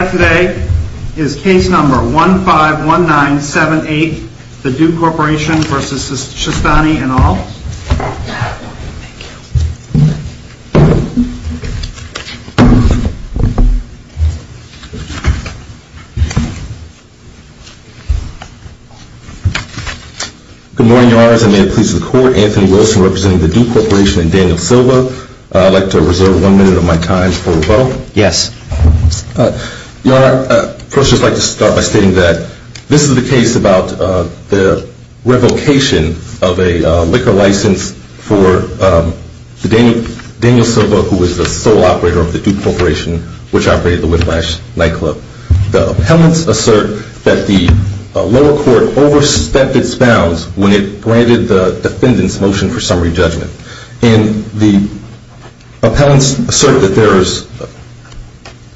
Today is case number 151978, the Do Corporation v. Shastany et al. Good morning, your honors. I may it please the court, Anthony Wilson representing the Do Corporation and Daniel Silva. I'd like to reserve one minute of my time for rebuttal. Yes. Your honor, I'd first just like to start by stating that this is the case about the revocation of a liquor license for Daniel Silva, who was the sole operator of the Do Corporation, which operated the Whiplash nightclub. The appellants assert that the lower court overstepped its bounds when it granted the defendant's motion for summary judgment. And the appellants assert that there is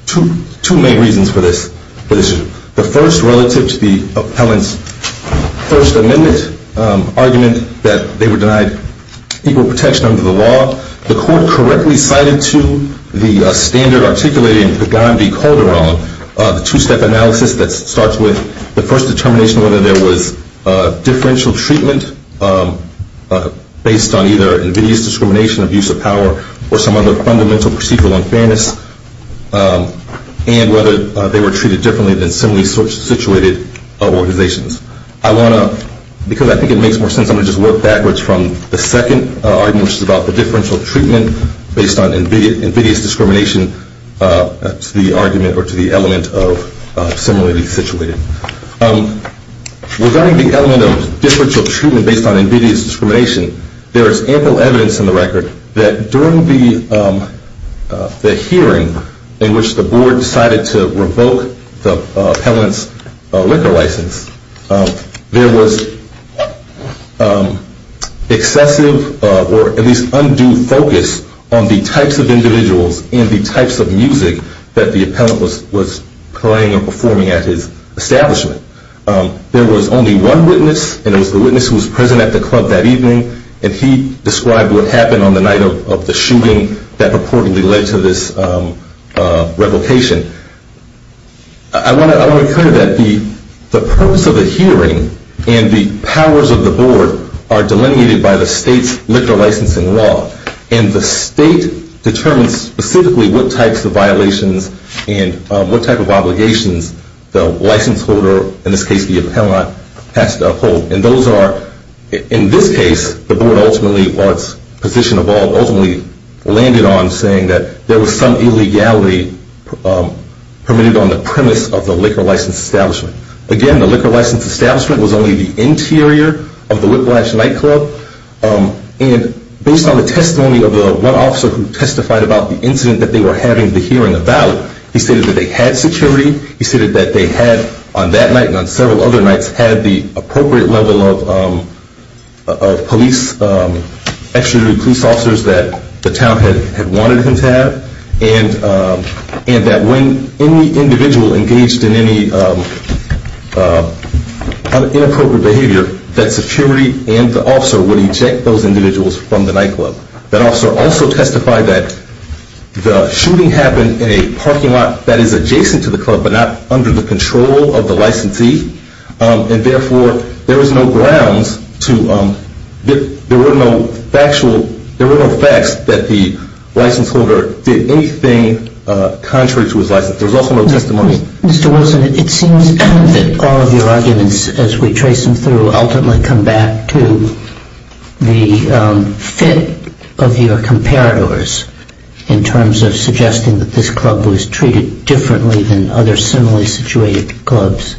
two main reasons for this. The first, relative to the appellant's First Amendment argument that they were denied equal protection under the law, the court correctly cited to the standard articulated in Pagan v. Calderon, the two-step analysis that starts with the first determination whether there was differential treatment based on either invidious discrimination, abuse of power, or some other fundamental procedural unfairness, and whether they were treated differently than similarly situated organizations. I want to, because I think it makes more sense, I'm going to just work backwards from the second argument, which is about the differential treatment based on invidious discrimination to the argument or to the element of similarly situated. Regarding the element of differential treatment based on invidious discrimination, there is ample evidence in the record that during the hearing in which the board decided to revoke the appellant's liquor license, there was excessive or at least undue focus on the types of individuals and the types of music that the appellant was playing or performing at his establishment. There was only one witness, and it was the witness who was present at the club that evening, and he described what happened on the night of the shooting that purportedly led to this revocation. I want to recur to that. The purpose of the hearing and the powers of the board are delineated by the state's liquor licensing law, and the state determines specifically what types of violations and what type of obligations the license holder, in this case the appellant, has to uphold. And those are, in this case, the board ultimately, while its position evolved, ultimately landed on saying that there was some illegality permitted on the premise of the liquor license establishment. Again, the liquor license establishment was only the interior of the Whiplash Nightclub, and based on the testimony of one officer who testified about the incident that they were having the hearing about, he stated that they had security. He stated that they had, on that night and on several other nights, had the appropriate level of police, extra police officers that the town had wanted them to have, and that when any individual engaged in any inappropriate behavior, that security and the officer would eject those individuals from the nightclub. That officer also testified that the shooting happened in a parking lot that is adjacent to the club but not under the control of the licensee, and therefore there was no grounds to, there were no factual, there were no facts that the license holder did anything contrary to his license. There was also no testimony. Mr. Wilson, it seems that all of your arguments, as we trace them through, ultimately come back to the fit of your comparators in terms of suggesting that this club was treated differently than other similarly situated clubs,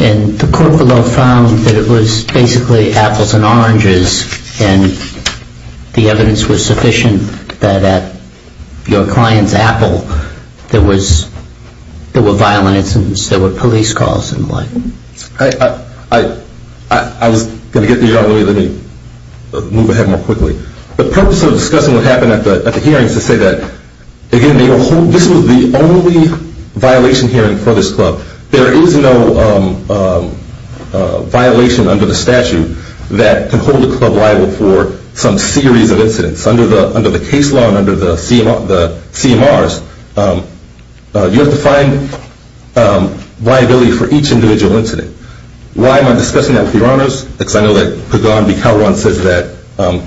and the court below found that it was basically apples and oranges, and the evidence was sufficient that at your client's apple there was, there were violent incidents, there were police calls and the like. I was going to get to you on that. Let me move ahead more quickly. The purpose of discussing what happened at the hearings is to say that, again, this was the only violation hearing for this club. There is no violation under the statute that can hold a club liable for some series of incidents. Under the case law and under the CMRs, you have to find liability for each individual incident. Why am I discussing that with your honors? Because I know that Pagan B. Calderon says that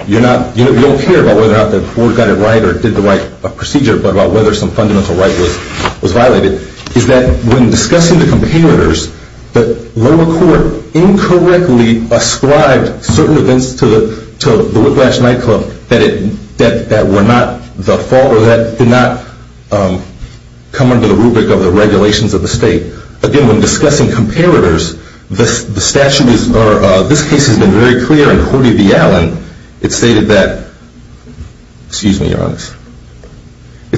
you're not, you don't care about whether or not the court got it right or did the right procedure, but about whether some fundamental right was violated, is that when discussing the comparators, the lower court incorrectly ascribed certain events to the Whiplash Nightclub that were not the fault or that did not come under the rubric of the regulations of the state. Again, when discussing comparators, this case has been very clear in Horty v. Allen. It stated that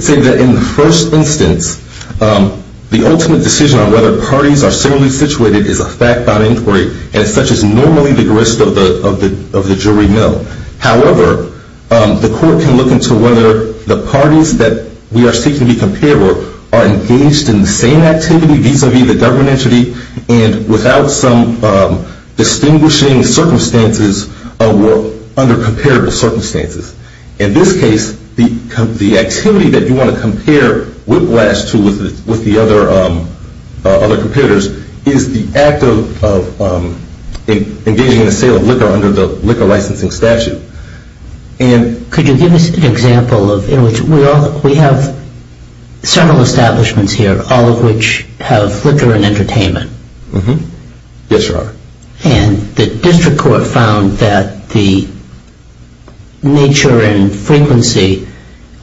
in the first instance, the ultimate decision on whether parties are similarly situated is a fact-bound inquiry and such is normally the grist of the jury mill. However, the court can look into whether the parties that we are seeking to be comparable are engaged in the same activity vis-à-vis the government entity and without some distinguishing circumstances under comparable circumstances. In this case, the activity that you want to compare Whiplash to with the other comparators is the act of engaging in the sale of liquor under the liquor licensing statute. Could you give us an example? We have several establishments here, all of which have liquor and entertainment. Yes, sir. And the district court found that the nature and frequency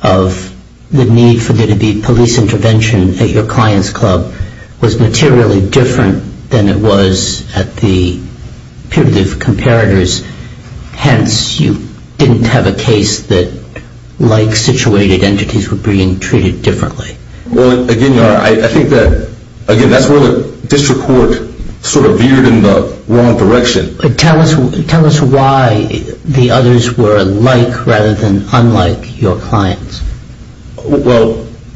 of the need for there to be police intervention at your client's club was materially different than it was at the peer-to-peer comparators. Hence, you didn't have a case that like-situated entities were being treated differently. Well, again, I think that, again, that's where the district court sort of veered in the wrong direction. Tell us why the others were alike rather than unlike your clients. Well,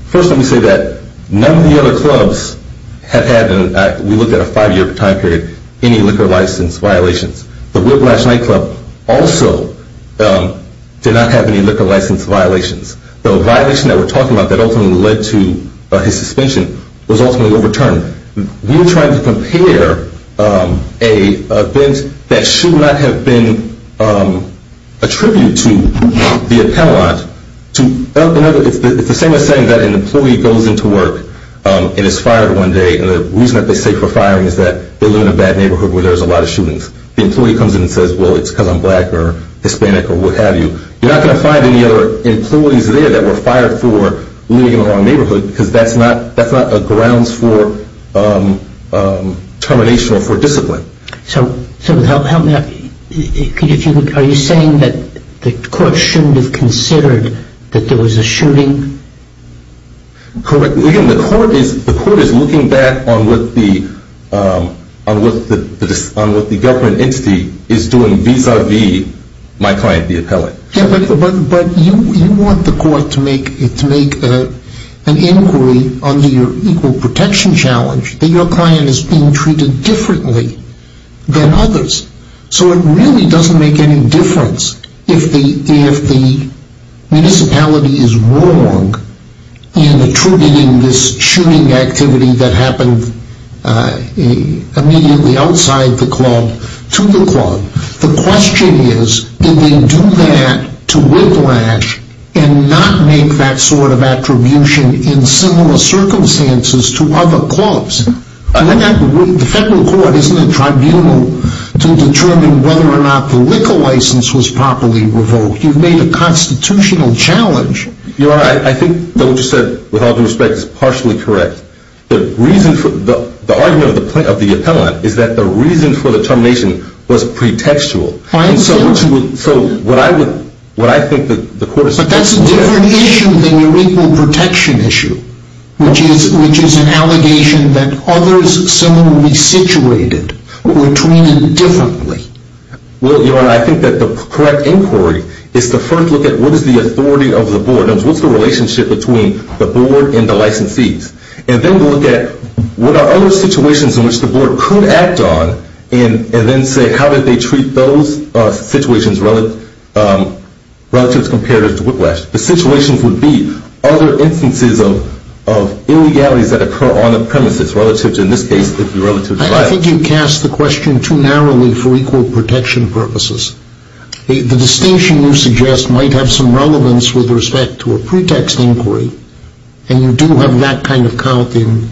first let me say that none of the other clubs have had, we looked at a five-year time period, any liquor license violations. The Whiplash nightclub also did not have any liquor license violations. The violation that we're talking about that ultimately led to his suspension was ultimately overturned. We were trying to compare an event that should not have been attributed to the appellant to another. It's the same as saying that an employee goes into work and is fired one day, and the reason that they say for firing is that they live in a bad neighborhood where there's a lot of shootings. The employee comes in and says, well, it's because I'm black or Hispanic or what have you. You're not going to find any other employees there that were fired for living in the wrong neighborhood because that's not a grounds for termination or for discipline. So help me out. Are you saying that the court shouldn't have considered that there was a shooting? Correct. The court is looking back on what the government entity is doing vis-a-vis my client, the appellant. But you want the court to make an inquiry under your equal protection challenge that your client is being treated differently than others. So it really doesn't make any difference if the municipality is wrong in attributing this shooting activity that happened immediately outside the club to the club. The question is, did they do that to whiplash and not make that sort of attribution in similar circumstances to other clubs? The federal court isn't a tribunal to determine whether or not the liquor license was properly revoked. You've made a constitutional challenge. Your Honor, I think that what you said, with all due respect, is partially correct. The argument of the appellant is that the reason for the termination was pretextual. So what I think the court is supposed to look at... But that's a different issue than your equal protection issue, which is an allegation that others similarly situated were treated differently. Well, Your Honor, I think that the correct inquiry is to first look at what is the authority of the board. What's the relationship between the board and the licensees? And then look at what are other situations in which the board could act on and then say how did they treat those situations relative to whiplash. The situations would be other instances of illegalities that occur on the premises relative to, in this case, relative to violence. I think you cast the question too narrowly for equal protection purposes. The distinction you suggest might have some relevance with respect to a pretext inquiry, and you do have that kind of count in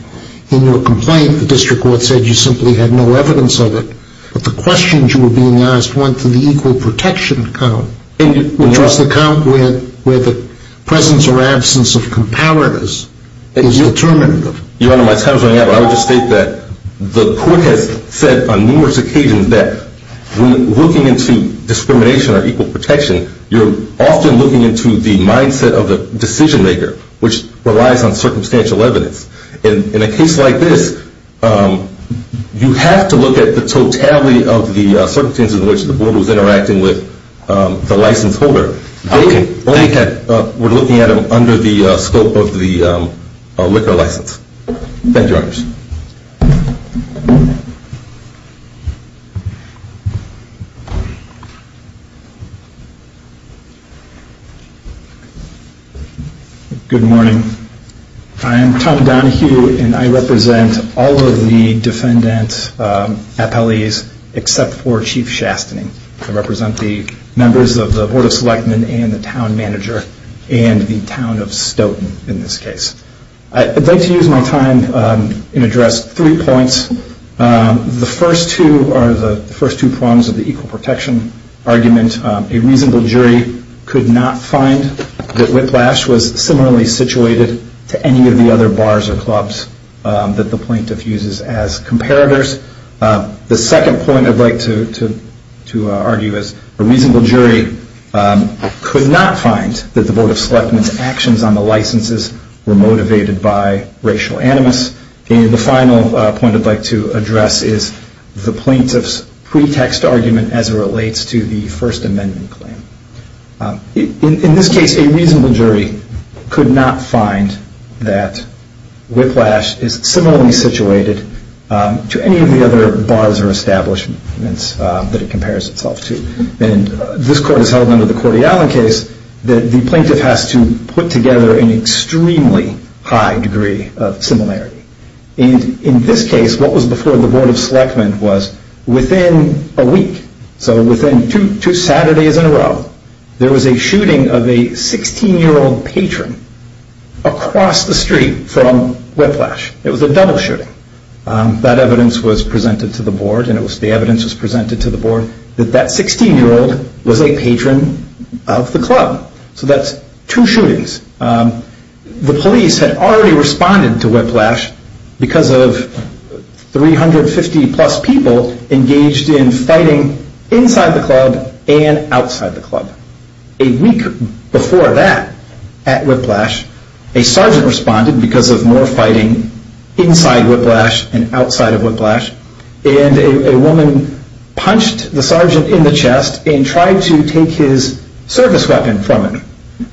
your complaint. The district court said you simply had no evidence of it. But the questions you were being asked went to the equal protection count, which was the count where the presence or absence of comparatives is determined. Your Honor, my time is running out, but I would just state that the court has said on numerous occasions that when looking into discrimination or equal protection, you're often looking into the mindset of the decision maker, which relies on circumstantial evidence. In a case like this, you have to look at the totality of the circumstances in which the board was interacting with the license holder. Okay. We're looking at them under the scope of the liquor license. Thank you, Your Honor. Good morning. I am Tom Donohue, and I represent all of the defendant appellees except for Chief Shastening. I represent the members of the Board of Selectmen and the town manager and the town of Stoughton in this case. I'd like to use my time and address three points. The first two are the first two prongs of the equal protection argument. A reasonable jury could not find that whiplash was similarly situated to any of the other bars or clubs that the plaintiff uses as comparators. The second point I'd like to argue is a reasonable jury could not find that the Board of Selectmen's actions on the licenses were motivated by racial animus. And the final point I'd like to address is the plaintiff's pretext argument as it relates to the First Amendment claim. In this case, a reasonable jury could not find that whiplash is similarly situated to any of the other bars or establishments that it compares itself to. And this court has held under the Cordiallen case that the plaintiff has to put together an extremely high degree of similarity. In this case, what was before the Board of Selectmen was within a week, so within two Saturdays in a row, there was a shooting of a 16-year-old patron across the street from Whiplash. It was a double shooting. That evidence was presented to the Board and the evidence was presented to the Board that that 16-year-old was a patron of the club. So that's two shootings. The police had already responded to whiplash because of 350-plus people engaged in fighting inside the club and outside the club. A week before that at Whiplash, a sergeant responded because of more fighting inside Whiplash and outside of Whiplash, and a woman punched the sergeant in the chest and tried to take his service weapon from him.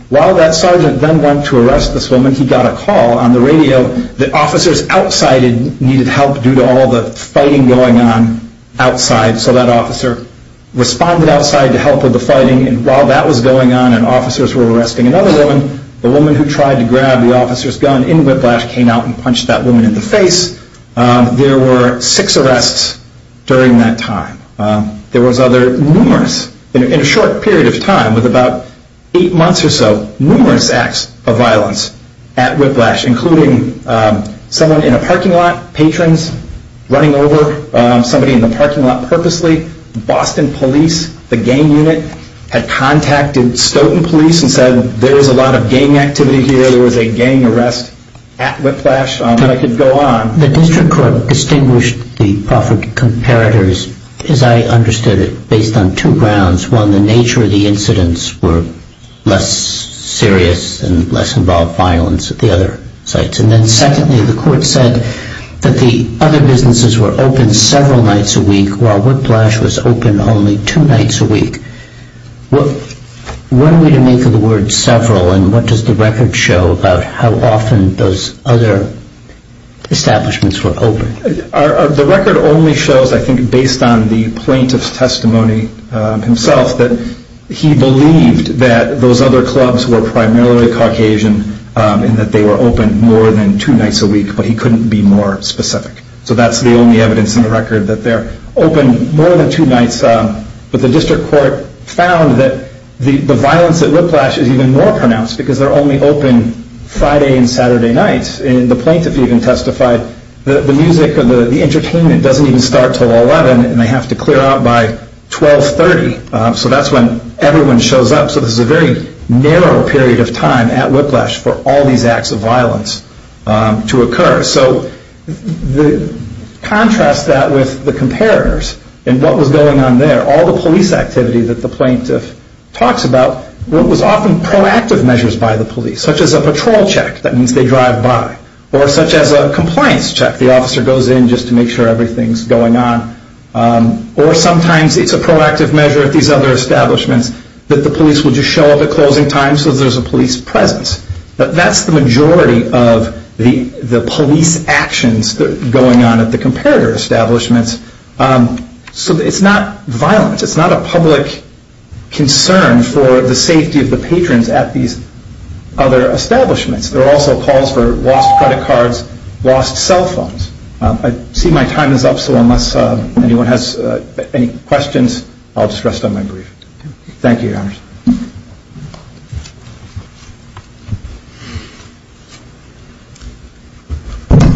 While that sergeant then went to arrest this woman, he got a call on the radio that officers outside needed help due to all the fighting going on outside. So that officer responded outside to help with the fighting, and while that was going on and officers were arresting another woman, the woman who tried to grab the officer's gun in Whiplash came out and punched that woman in the face. There were six arrests during that time. There was other numerous, in a short period of time, with about eight months or so, numerous acts of violence at Whiplash, including someone in a parking lot, patrons running over somebody in the parking lot purposely. Boston police, the gang unit, had contacted Stoughton police and said there was a lot of gang activity here, there was a gang arrest at Whiplash, and I could go on. The district court distinguished the proffered comparators, as I understood it, based on two grounds. One, the nature of the incidents were less serious and less involved violence at the other sites. And then secondly, the court said that the other businesses were open several nights a week while Whiplash was open only two nights a week. What are we to make of the word several, and what does the record show about how often those other establishments were open? The record only shows, I think, based on the plaintiff's testimony himself, that he believed that those other clubs were primarily Caucasian and that they were open more than two nights a week, but he couldn't be more specific. So that's the only evidence in the record that they're open more than two nights. But the district court found that the violence at Whiplash is even more pronounced because they're only open Friday and Saturday nights. And the plaintiff even testified that the music or the entertainment doesn't even start until 11 and they have to clear out by 1230, so that's when everyone shows up. So this is a very narrow period of time at Whiplash for all these acts of violence to occur. So contrast that with the comparators and what was going on there. All the police activity that the plaintiff talks about was often proactive measures by the police, such as a patrol check, that means they drive by, or such as a compliance check. The officer goes in just to make sure everything's going on. Or sometimes it's a proactive measure at these other establishments that the police will just show up at closing time so there's a police presence. That's the majority of the police actions going on at the comparator establishments. So it's not violence. It's not a public concern for the safety of the patrons at these other establishments. There are also calls for lost credit cards, lost cell phones. I see my time is up, so unless anyone has any questions, I'll just rest on my brief. Thank you, Your Honors.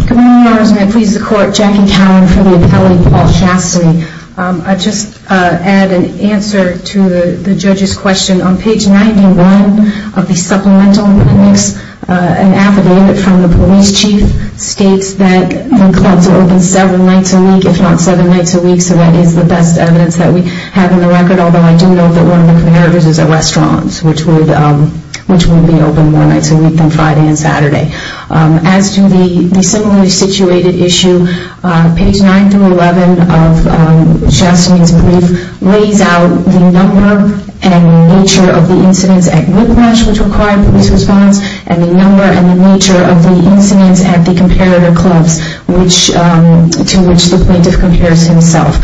Good morning, Your Honors, and I please the Court. Jackie Cowan for the appellate, Paul Shastry. I'll just add an answer to the judge's question. On page 91 of the supplemental, it makes an affidavit from the police chief that states that the clubs are open seven nights a week, if not seven nights a week, so that is the best evidence that we have in the record, although I do know that one of the comparators is at restaurants, which would be open more nights a week than Friday and Saturday. As to the similarly situated issue, page 9 through 11 of Shastry's brief lays out the number and nature of the incidents at Whiplash, which required police response, and the number and the nature of the incidents at the comparator clubs, to which the plaintiff compares himself.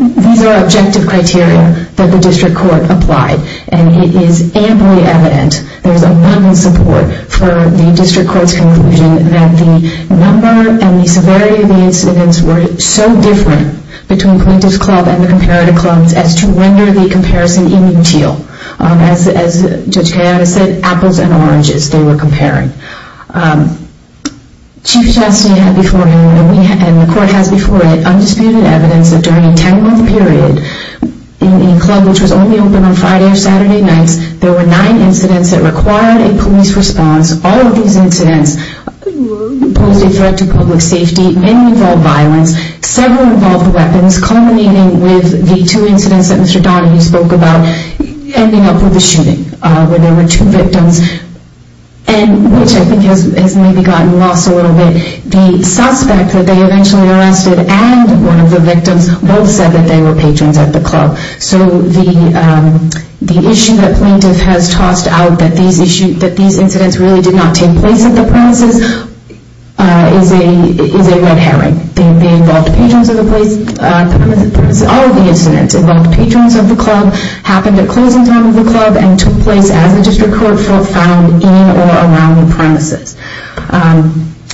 These are objective criteria that the district court applied, and it is amply evident, there is abundant support for the district court's conclusion, that the number and the severity of the incidents were so different between Plaintiff's Club and the comparator clubs as to render the comparison inutile. As Judge Cowan has said, apples and oranges they were comparing. Chief Shastry had before him, and the court has before it, undisputed evidence that during a 10-month period, in a club which was only open on Friday or Saturday nights, there were nine incidents that required a police response. All of these incidents posed a threat to public safety, many involved violence, several involved weapons, culminating with the two incidents that Mr. Donahue spoke about, ending up with a shooting, where there were two victims. Which I think has maybe gotten lost a little bit. The suspect that they eventually arrested, and one of the victims, both said that they were patrons at the club. So the issue that plaintiff has tossed out, that these incidents really did not take place at the premises, is a red herring. They involved patrons at the premises. All of the incidents involved patrons at the club, happened at closing time of the club, and took place as the district court found in or around the premises.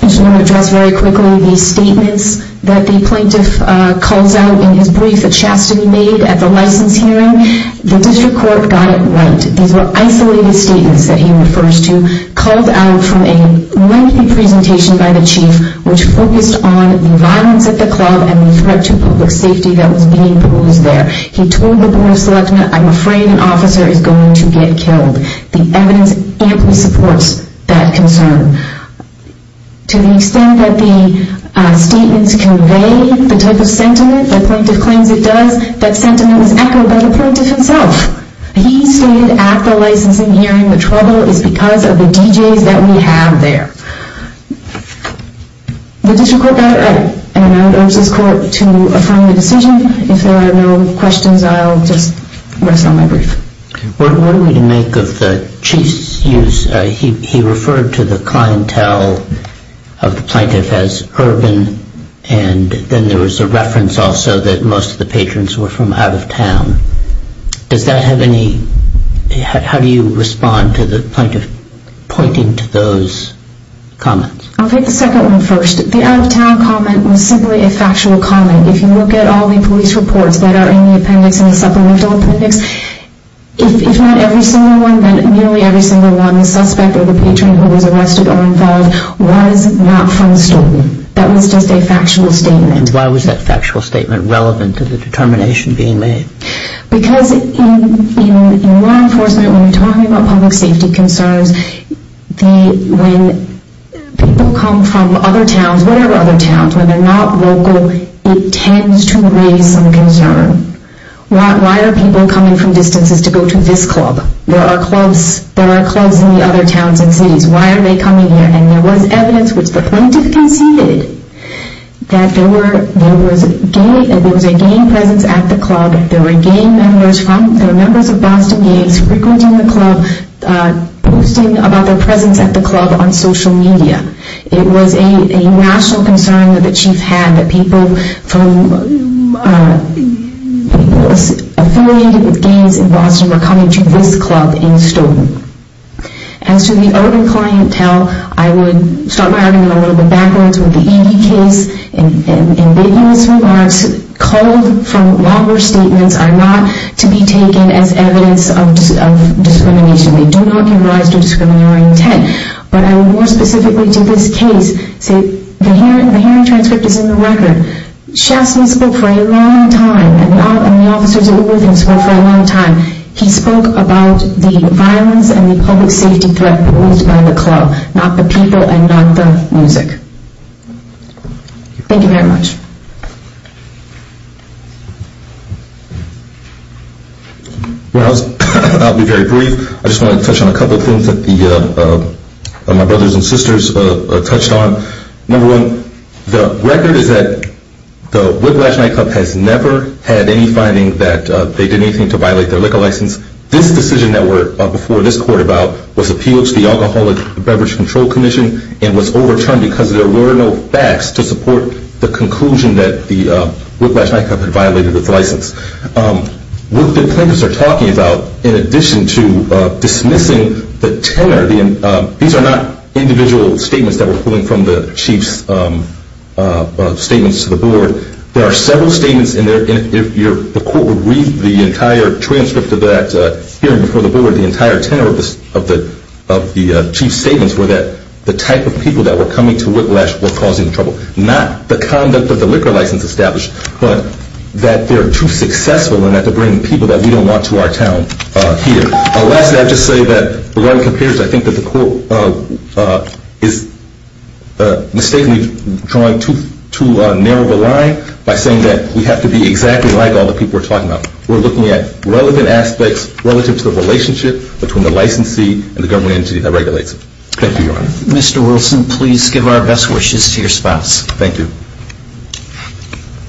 I just want to address very quickly the statements that the plaintiff calls out in his brief that Shastry made at the license hearing. The district court got it right. These were isolated statements that he refers to, called out from a lengthy presentation by the chief, which focused on the violence at the club, and the threat to public safety that was being perused there. He told the board of selectment, I'm afraid an officer is going to get killed. The evidence amply supports that concern. To the extent that the statements convey the type of sentiment that plaintiff claims it does, that sentiment is echoed by the plaintiff himself. He stated at the licensing hearing, the trouble is because of the DJs that we have there. The district court got it right, and I would urge this court to affirm the decision. If there are no questions, I'll just rest on my brief. What are we to make of the chief's use? He referred to the clientele of the plaintiff as urban, and then there was a reference also that most of the patrons were from out of town. Does that have any, how do you respond to the plaintiff pointing to those comments? I'll take the second one first. The out of town comment was simply a factual comment. If you look at all the police reports that are in the appendix, in the supplemental appendix, if not every single one, then nearly every single one, the suspect or the patron who was arrested or involved was not from Stoughton. That was just a factual statement. And why was that factual statement relevant to the determination being made? Because in law enforcement, when we're talking about public safety concerns, when people come from other towns, whatever other towns, when they're not local, it tends to raise some concern. Why are people coming from distances to go to this club? There are clubs in the other towns and cities. Why are they coming here? And there was evidence, which the plaintiff conceded, that there was a gay presence at the club. There were gay members from, there were members of Boston Gays frequenting the club, posting about their presence at the club on social media. It was a national concern that the chief had that people from, people affiliated with gays in Boston were coming to this club in Stoughton. As to the urban clientele, I would start by adding a little bit backwards with the E.V. case. In big U.S. regards, called-for-lobber statements are not to be taken as evidence of discrimination. They do not give rise to discriminatory intent. But I would more specifically to this case say, the hearing transcript is in the record. Shastin spoke for a long time, and the officers who were with him spoke for a long time. He spoke about the violence and the public safety threat posed by the club, not the people and not the music. Thank you very much. Well, I'll be very brief. I just want to touch on a couple of things that my brothers and sisters touched on. Number one, the record is that the Whiplash Nightclub has never had any finding that they did anything to violate their liquor license. This decision that we're before this court about was appealed to the Alcoholic Beverage Control Commission and was overturned because there were no facts to support the conclusion that the Whiplash Nightclub had violated its license. What the plaintiffs are talking about, in addition to dismissing the tenor, these are not individual statements that were pulling from the chief's statements to the board. There are several statements, and the court would read the entire transcript of that hearing before the board. The entire tenor of the chief's statements were that the type of people that were coming to Whiplash were causing trouble. Not the conduct of the liquor license established, but that they're too successful in that they're bringing people that we don't want to our town here. Lastly, I'd just say that the way it appears, I think that the court is mistakenly drawing too narrow of a line by saying that we have to be exactly like all the people we're talking about. We're looking at relevant aspects relative to the relationship between the licensee and the government entity that regulates it. Thank you, Your Honor. Mr. Wilson, please give our best wishes to your spouse. Thank you. Thank you.